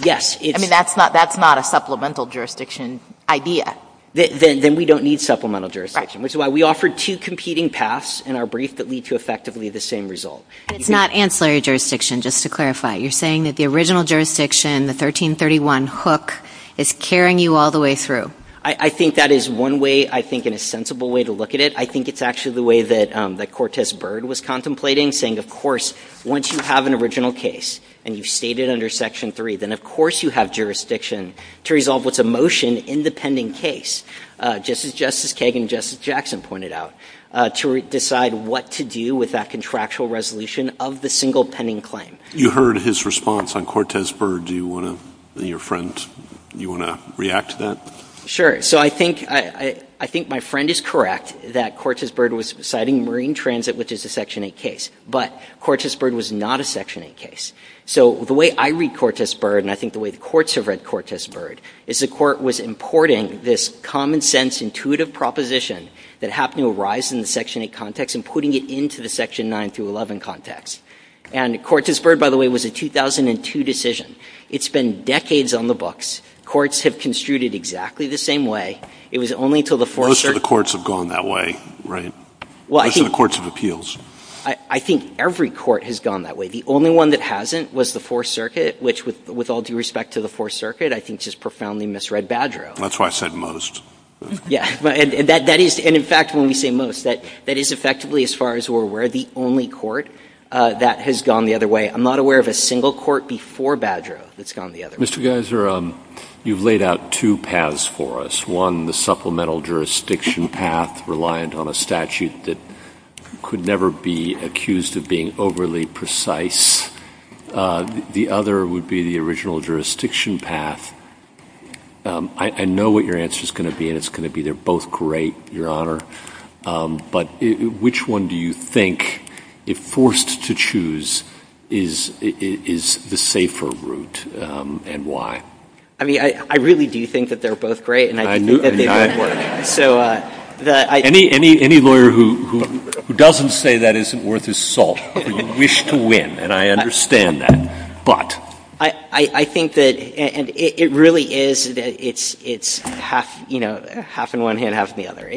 Yes. I mean, that's not a supplemental jurisdiction idea. Then we don't need supplemental jurisdiction. Right. Which is why we offer two competing paths in our brief that lead to effectively the same result. It's not ancillary jurisdiction, just to clarify. You're saying that the original jurisdiction, the 1331 hook, is carrying you all the way through. I think that is one way, I think, and a sensible way to look at it. I think it's actually the way that Cortez Byrd was contemplating, saying, of course, once you have an original case and you state it under Section 3, then of course you have jurisdiction to resolve what's a motion in the pending case, just as Justice Kagan and Justice Jackson pointed out, to decide what to do with that contractual resolution of the single pending claim. You heard his response on Cortez Byrd. Do you want to, your friend, do you want to react to that? Sure. So I think, I think my friend is correct that Cortez Byrd was citing Marine Transit, which is a Section 8 case. But Cortez Byrd was not a Section 8 case. So the way I read Cortez Byrd, and I think the way the courts have read Cortez Byrd, is the court was importing this common sense, intuitive proposition that happened to arise in the Section 8 context and putting it into the Section 9 through 11 context. And Cortez Byrd, by the way, was a 2002 decision. It's been decades on the books. Courts have construed it exactly the same way. It was only until the Fourth Circuit. Most of the courts have gone that way, right? Well, I think. Most of the courts have appeals. I think every court has gone that way. The only one that hasn't was the Fourth Circuit, which, with all due respect to the Fourth Circuit, I think just profoundly misread Badreau. That's why I said most. Yes. And that is, and in fact, when we say most, that is effectively, as far as we're aware, the only court that has gone the other way. I'm not aware of a single court before Badreau that's gone the other way. Mr. Geiser, you've laid out two paths for us. One, the supplemental jurisdiction path, reliant on a statute that could never be accused of being overly precise. The other would be the original jurisdiction path. I know what your answer is going to be, and it's going to be they're both great, Your Honor, but which one do you think, if forced to choose, is the safer route? And why? I mean, I really do think that they're both great. And I do think that they both work. So that I don't know. Any lawyer who doesn't say that isn't worth his salt, you wish to win. And I understand that. But. I think that it really is that it's half, you know, half in one hand, half in the other.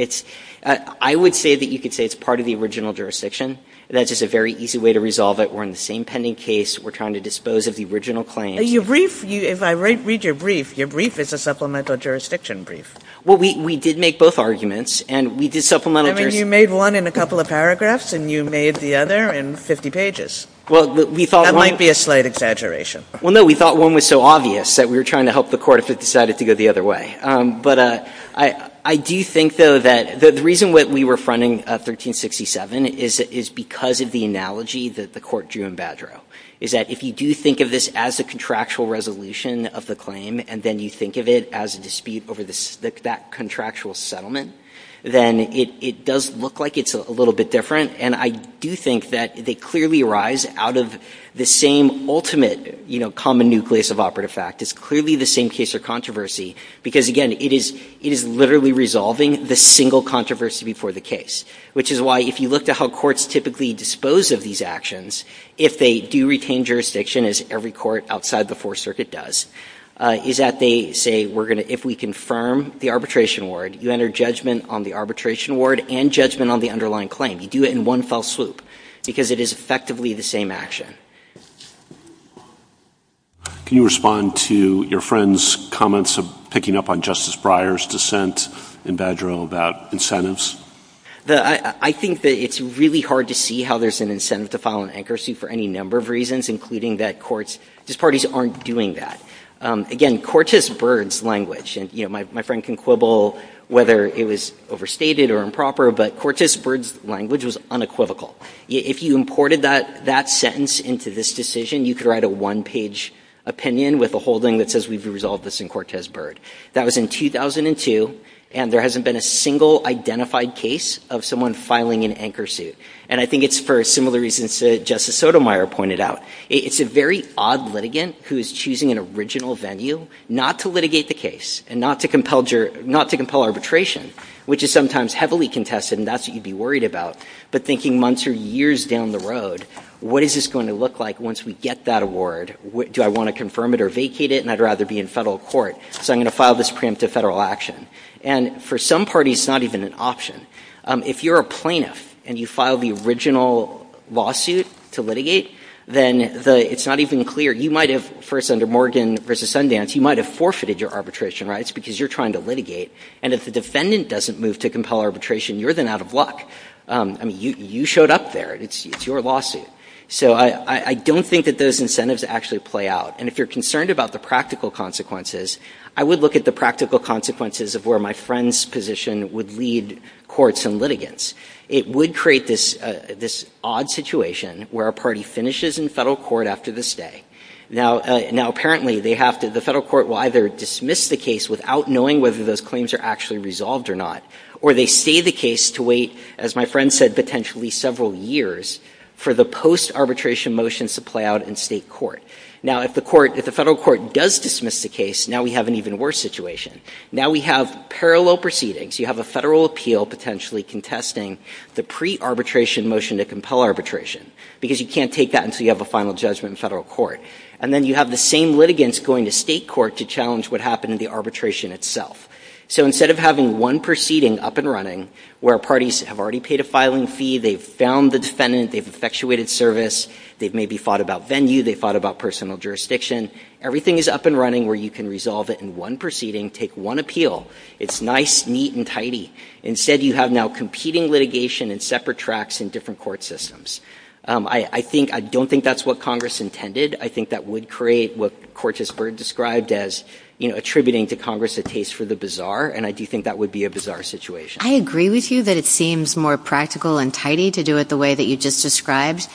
I would say that you could say it's part of the original jurisdiction. That's just a very easy way to resolve it. We're in the same pending case. We're trying to dispose of the original claims. Your brief, if I read your brief, your brief is a supplemental jurisdiction brief. Well, we did make both arguments. And we did supplemental jurisdiction. I mean, you made one in a couple of paragraphs, and you made the other in 50 pages. Well, we thought one. That might be a slight exaggeration. Well, no. We thought one was so obvious that we were trying to help the Court if it decided to go the other way. But I do think, though, that the reason that we were fronting 1367 is because of the analogy that the Court drew in Badreau, is that if you do think of this as a contractual resolution of the claim, and then you think of it as a dispute over that contractual settlement, then it does look like it's a little bit different. And I do think that they clearly arise out of the same ultimate, you know, common nucleus of operative fact. It's clearly the same case or controversy, because, again, it is literally resolving the single controversy before the case. Which is why, if you look at how courts typically dispose of these actions, if they do retain jurisdiction, as every court outside the Fourth Circuit does, is that they say, if we confirm the arbitration award, you enter judgment on the arbitration award and judgment on the underlying claim. You do it in one fell swoop, because it is effectively the same action. Can you respond to your friend's comments of picking up on Justice Breyer's dissent in Badreau about incentives? I think that it's really hard to see how there's an incentive to file an anchoracy suit for any number of reasons, including that courts' parties aren't doing that. Again, Cortes-Byrd's language, and, you know, my friend can quibble whether it was overstated or improper, but Cortes-Byrd's language was unequivocal. If you imported that sentence into this decision, you could write a one-page opinion with a holding that says we've resolved this in Cortes-Byrd. That was in 2002, and there hasn't been a single identified case of someone filing an anchorsuit. And I think it's for similar reasons that Justice Sotomayor pointed out. It's a very odd litigant who is choosing an original venue not to litigate the case and not to compel arbitration, which is sometimes heavily contested, and that's what you'd be worried about, but thinking months or years down the road, what is this going to look like once we get that award? Do I want to confirm it or vacate it? And I'd rather be in federal court, so I'm going to file this preemptive federal action. And for some parties, it's not even an option. If you're a plaintiff and you file the original lawsuit to litigate, then it's not even clear. You might have, first under Morgan v. Sundance, you might have forfeited your arbitration rights because you're trying to litigate. And if the defendant doesn't move to compel arbitration, you're then out of luck. I mean, you showed up there. It's your lawsuit. So I don't think that those incentives actually play out. And if you're concerned about the practical consequences, I would look at the practical consequences of a case where a defense position would lead courts and litigants. It would create this odd situation where a party finishes in federal court after the stay. Now, apparently, they have to – the federal court will either dismiss the case without knowing whether those claims are actually resolved or not, or they stay the case to wait, as my friend said, potentially several years for the post-arbitration motions to play out in state court. Now, if the court – if the federal court does dismiss the case, now we have an even worse situation. Now, we have parallel proceedings. You have a federal appeal potentially contesting the pre-arbitration motion to compel arbitration because you can't take that until you have a final judgment in federal court. And then you have the same litigants going to state court to challenge what happened in the arbitration itself. So instead of having one proceeding up and running where parties have already paid a filing fee, they've found the defendant, they've effectuated service, they've maybe fought about venue, they've fought about personal jurisdiction, everything is up and running where you can resolve it in one proceeding, take one appeal. It's nice, neat, and tidy. Instead, you have now competing litigation and separate tracks in different court systems. I think – I don't think that's what Congress intended. I think that would create what Cortes-Byrd described as, you know, attributing to Congress a taste for the bizarre, and I do think that would be a bizarre situation. I agree with you that it seems more practical and tidy to do it the way that you just described.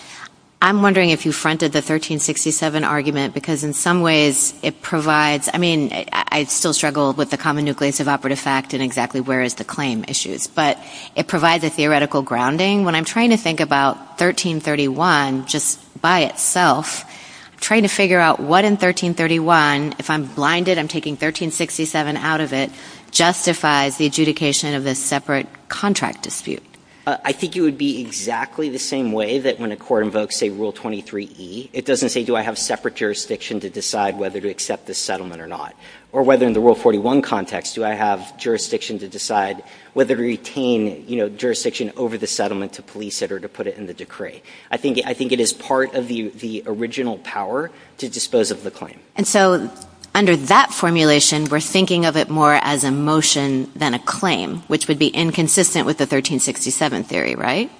I'm wondering if you fronted the 1367 argument because in some ways it provides – I mean, I still struggle with the common nucleus of operative fact and exactly where is the claim issues. But it provides a theoretical grounding. When I'm trying to think about 1331 just by itself, I'm trying to figure out what in 1331, if I'm blinded, I'm taking 1367 out of it, justifies the adjudication of this separate contract dispute. I think it would be exactly the same way that when a court invokes, say, Rule 23E, it doesn't say do I have separate jurisdiction to decide whether to accept this settlement or not. Or whether in the Rule 41 context, do I have jurisdiction to decide whether to retain, you know, jurisdiction over the settlement to police it or to put it in the decree. I think it is part of the original power to dispose of the claim. And so under that formulation, we're thinking of it more as a motion than a claim, which would be inconsistent with the 1367 theory, right?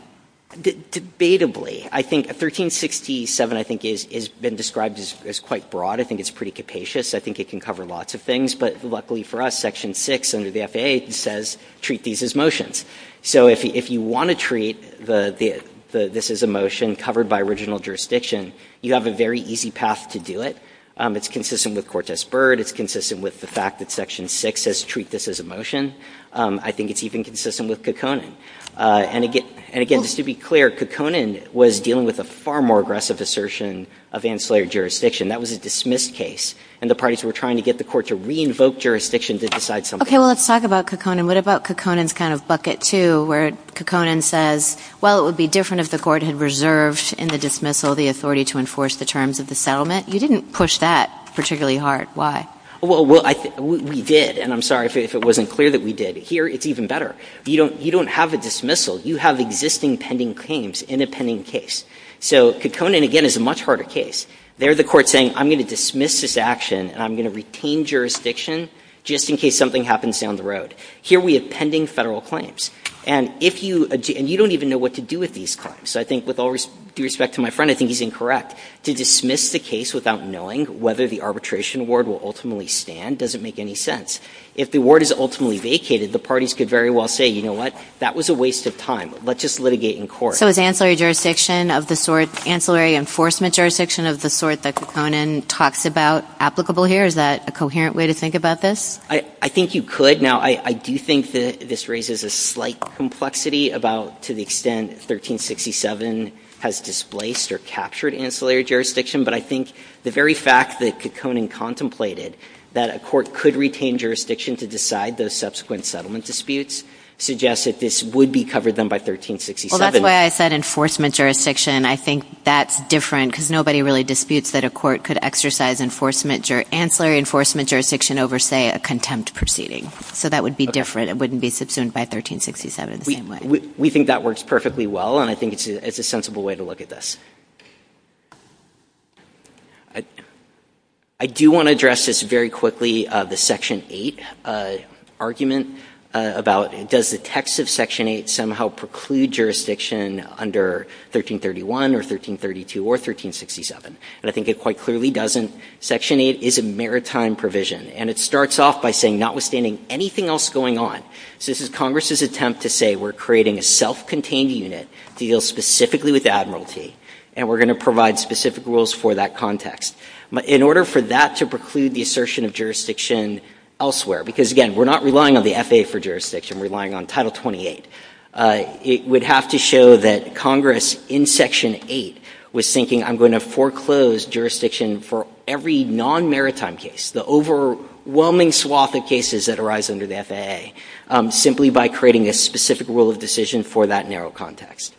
Debatably. I think 1367, I think, has been described as quite broad. I think it's pretty capacious. I think it can cover lots of things. But luckily for us, Section 6 under the FAA says treat these as motions. So if you want to treat this as a motion covered by original jurisdiction, you have a very easy path to do it. It's consistent with Cortez-Byrd. It's consistent with the fact that Section 6 says treat this as a motion. I think it's even consistent with Kekkonen. And again, just to be clear, Kekkonen was dealing with a far more aggressive assertion of ancillary jurisdiction. That was a dismissed case. And the parties were trying to get the Court to re-invoke jurisdiction to decide something else. Okay. Well, let's talk about Kekkonen. What about Kekkonen's kind of bucket, too, where Kekkonen says, well, it would be different if the Court had reserved in the dismissal the authority to enforce the terms of the settlement? You didn't push that particularly hard. Why? Well, we did. And I'm sorry if it wasn't clear that we did. Here, it's even better. You don't have a dismissal. You have existing pending claims in a pending case. So Kekkonen, again, is a much harder case. There the Court is saying, I'm going to dismiss this action and I'm going to retain jurisdiction just in case something happens down the road. Here we have pending Federal claims. And if you – and you don't even know what to do with these claims. I think with all due respect to my friend, I think he's incorrect. To dismiss the case without knowing whether the arbitration award will ultimately stand doesn't make any sense. If the award is ultimately vacated, the parties could very well say, you know what, that was a waste of time. Let's just litigate in court. So is ancillary jurisdiction of the sort – ancillary enforcement jurisdiction of the sort that Kekkonen talks about applicable here? Is that a coherent way to think about this? I think you could. Now, I do think that this raises a slight complexity about to the extent 1367 has displaced or captured ancillary jurisdiction. But I think the very fact that Kekkonen contemplated that a court could retain jurisdiction to decide those subsequent settlement disputes suggests that this would be covered then by 1367. Well, that's why I said enforcement jurisdiction. I think that's different because nobody really disputes that a court could exercise enforcement – ancillary enforcement jurisdiction over, say, a contempt proceeding. So that would be different. It wouldn't be subsumed by 1367 the same way. We think that works perfectly well. And I think it's a sensible way to look at this. I do want to address this very quickly, the Section 8 argument about does the text of Section 8 somehow preclude jurisdiction under 1331 or 1332 or 1367? And I think it quite clearly doesn't. Section 8 is a maritime provision. And it starts off by saying notwithstanding anything else going on – so this is Congress's attempt to say we're creating a self-contained unit to deal specifically with Admiralty, and we're going to provide specific rules for that context. In order for that to preclude the assertion of jurisdiction elsewhere – because, again, we're not relying on the FAA for jurisdiction, we're relying on Title 28 – it would have to show that Congress in Section 8 was thinking I'm going to foreclose jurisdiction for every non-maritime case, the overwhelming swath of cases that arise under the FAA, simply by creating a specific rule of decision for that narrow context.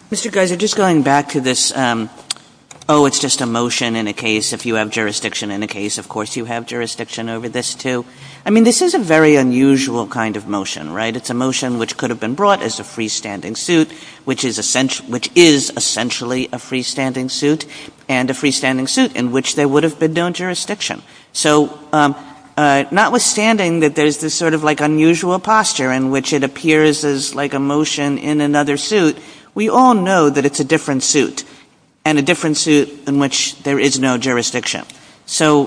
Kagan. Mr. Greiser, just going back to this, oh, it's just a motion in a case, if you have jurisdiction in a case, of course you have jurisdiction over this, too. I mean, this is a very unusual kind of motion, right? It's a motion which could have been brought as a freestanding suit, which is essentially a freestanding suit, and a freestanding suit in which there would have been no jurisdiction. So notwithstanding that there's this sort of like unusual posture in which it appears as like a motion in another suit, we all know that it's a different suit, and a different suit in which there is no jurisdiction. So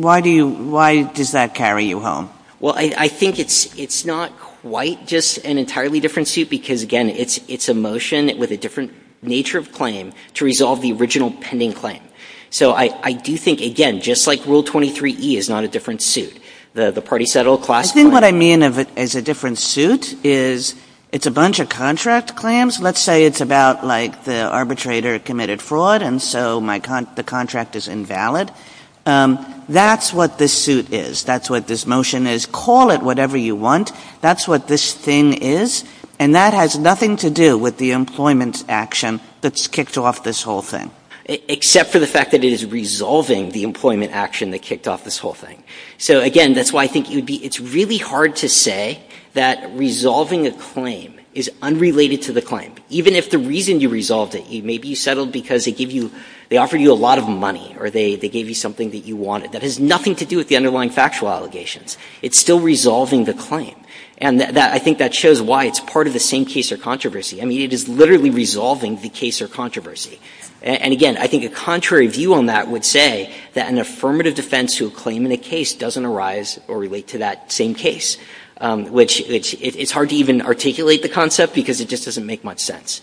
why do you – why does that carry you home? Well, I think it's not quite just an entirely different suit because, again, it's a motion with a different nature of claim to resolve the original pending claim. So I do think, again, just like Rule 23e is not a different suit, the party settled class claim. What I mean of it as a different suit is it's a bunch of contract claims. Let's say it's about like the arbitrator committed fraud and so my – the contract is invalid. That's what this suit is. That's what this motion is. Call it whatever you want. That's what this thing is. And that has nothing to do with the employment action that's kicked off this whole thing. Except for the fact that it is resolving the employment action that kicked off this whole thing. So, again, that's why I think it would be – it's really hard to say that resolving a claim is unrelated to the claim. Even if the reason you resolved it, maybe you settled because they gave you – they offered you a lot of money or they gave you something that you wanted. That has nothing to do with the underlying factual allegations. It's still resolving the claim. And that – I think that shows why it's part of the same case or controversy. I mean, it is literally resolving the case or controversy. And, again, I think a contrary view on that would say that an affirmative defense to a claim in a case doesn't arise or relate to that same case. Which – it's hard to even articulate the concept because it just doesn't make much sense.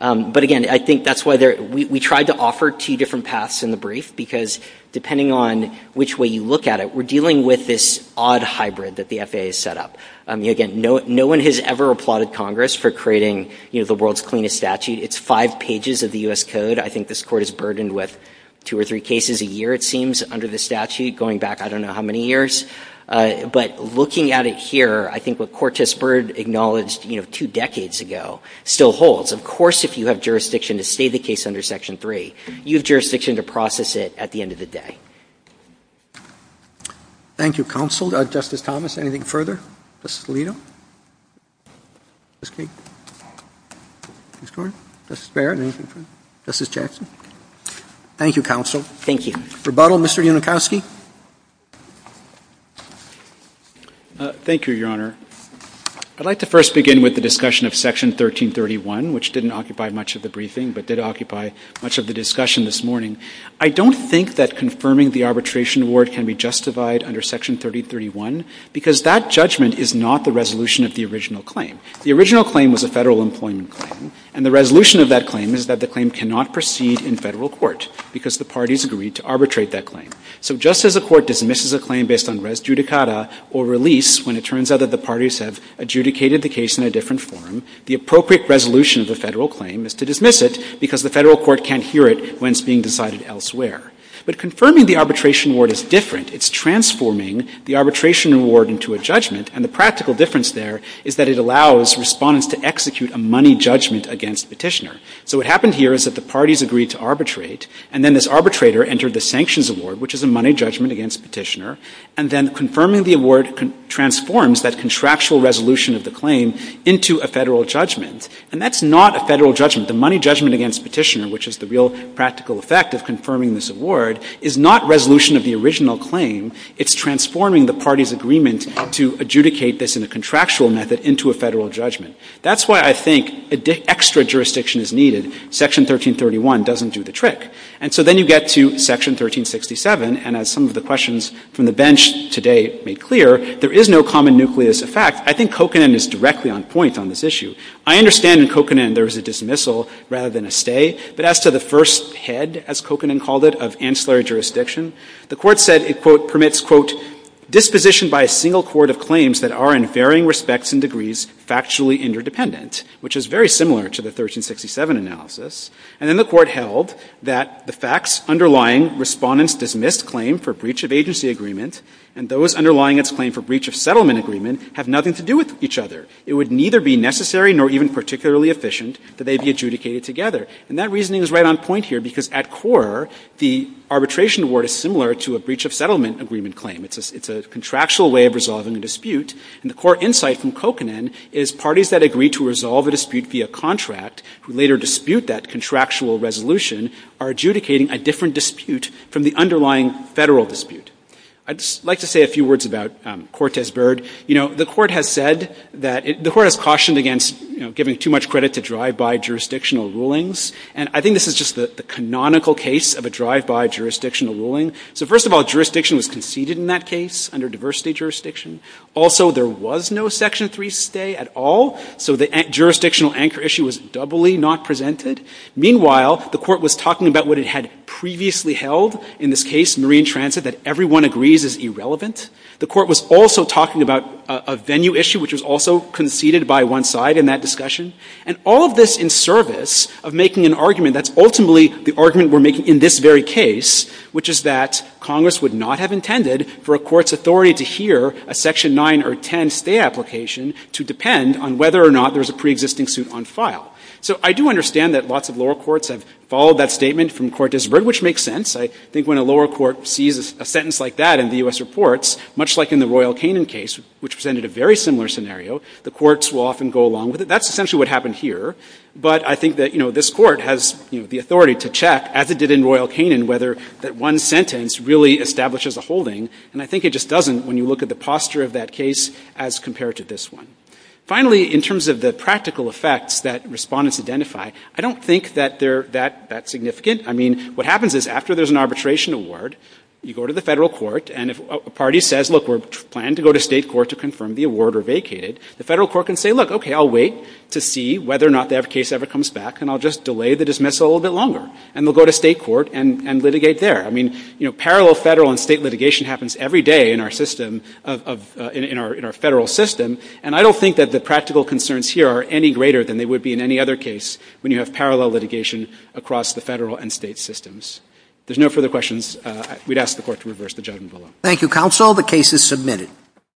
But, again, I think that's why there – we tried to offer two different paths in the brief because depending on which way you look at it, we're dealing with this odd hybrid that the FAA has set up. I mean, again, no one has ever applauded Congress for creating, you know, the world's cleanest statute. It's five pages of the U.S. Code. I think this Court is burdened with two or three cases a year, it seems, under the statute, going back I don't know how many years. But looking at it here, I think what Cortes-Byrd acknowledged, you know, two decades ago still holds. Of course, if you have jurisdiction to stay the case under Section 3, you have jurisdiction to process it at the end of the day. Roberts. Thank you, counsel. Justice Thomas, anything further? Justice Alito? Justice Kagan? Justice Gordon? Justice Barrett, anything further? Justice Jackson? Thank you, counsel. Thank you. Rebuttal, Mr. Yunenkowski. Thank you, Your Honor. I'd like to first begin with the discussion of Section 1331, which didn't occupy much of the briefing, but did occupy much of the discussion this morning. I don't think that confirming the arbitration award can be justified under Section 1331 because that judgment is not the resolution of the original claim. The original claim was a Federal employment claim, and the resolution of that claim is that the claim cannot proceed in Federal court because the parties agreed to arbitrate that claim. So just as a court dismisses a claim based on res judicata or release when it turns out that the parties have adjudicated the case in a different form, the appropriate resolution of the Federal claim is to dismiss it because the Federal court can't hear it when it's being decided elsewhere. But confirming the arbitration award is different. It's transforming the arbitration award into a judgment, and the practical difference there is that it allows Respondents to execute a money judgment against Petitioner. So what happened here is that the parties agreed to arbitrate, and then this arbitrator entered the sanctions award, which is a money judgment against Petitioner, and then confirming the award transforms that contractual resolution of the claim into a Federal judgment. And that's not a Federal judgment. The money judgment against Petitioner, which is the real practical effect of confirming this award, is not resolution of the original claim. It's transforming the parties' agreement to adjudicate this in a contractual method into a Federal judgment. That's why I think extra jurisdiction is needed. Section 1331 doesn't do the trick. And so then you get to Section 1367, and as some of the questions from the bench today made clear, there is no common nucleus effect. I think Kokanen is directly on point on this issue. I understand in Kokanen there is a dismissal rather than a stay, but as to the first head, as Kokanen called it, of ancillary jurisdiction, the Court said it, quote, permits, quote, disposition by a single court of claims that are in varying respects and degrees factually interdependent, which is very similar to the 1367 analysis. And then the Court held that the facts underlying Respondent's dismissed claim for breach of agency agreement and those underlying its claim for breach of settlement agreement have nothing to do with each other. It would neither be necessary nor even particularly efficient that they be adjudicated together. And that reasoning is right on point here, because at core, the arbitration award is similar to a breach of settlement agreement claim. It's a contractual way of resolving a dispute. And the core insight from Kokanen is parties that agree to resolve a dispute via contract, who later dispute that contractual resolution, are adjudicating a different dispute from the underlying federal dispute. I'd just like to say a few words about Cortes-Byrd. You know, the Court has said that it, the Court has cautioned against, you know, giving too much credit to drive-by jurisdictional rulings. And I think this is just the canonical case of a drive-by jurisdictional ruling. So first of all, jurisdiction was conceded in that case under diversity jurisdiction. Also, there was no Section 3 stay at all. So the jurisdictional anchor issue was doubly not presented. Meanwhile, the Court was talking about what it had previously held in this case, marine transit, that everyone agrees is irrelevant. The Court was also talking about a venue issue, which was also conceded by one side in that discussion. And all of this in service of making an argument that's ultimately the argument we're making in this very case, which is that Congress would not have intended for a court's authority to hear a Section 9 or 10 stay application to depend on whether or not there's a preexisting suit on file. So I do understand that lots of lower courts have followed that statement from Cortes-Byrd, which makes sense. I think when a lower court sees a sentence like that in the U.S. reports, much like in the Royal Canin case, which presented a very similar scenario, the courts will often go along with it. That's essentially what happened here. But I think that, you know, this Court has, you know, the authority to check, as it establishes a holding. And I think it just doesn't when you look at the posture of that case as compared to this one. Finally, in terms of the practical effects that respondents identify, I don't think that they're that significant. I mean, what happens is after there's an arbitration award, you go to the federal court, and if a party says, look, we're planning to go to state court to confirm the award or vacate it, the federal court can say, look, okay, I'll wait to see whether or not the case ever comes back, and I'll just delay the dismissal a little bit longer. And they'll go to state court and litigate there. I mean, you know, parallel federal and state litigation happens every day in our system, in our federal system. And I don't think that the practical concerns here are any greater than they would be in any other case when you have parallel litigation across the federal and state systems. If there's no further questions, we'd ask the Court to reverse the judgment below. Thank you, counsel. The case is submitted.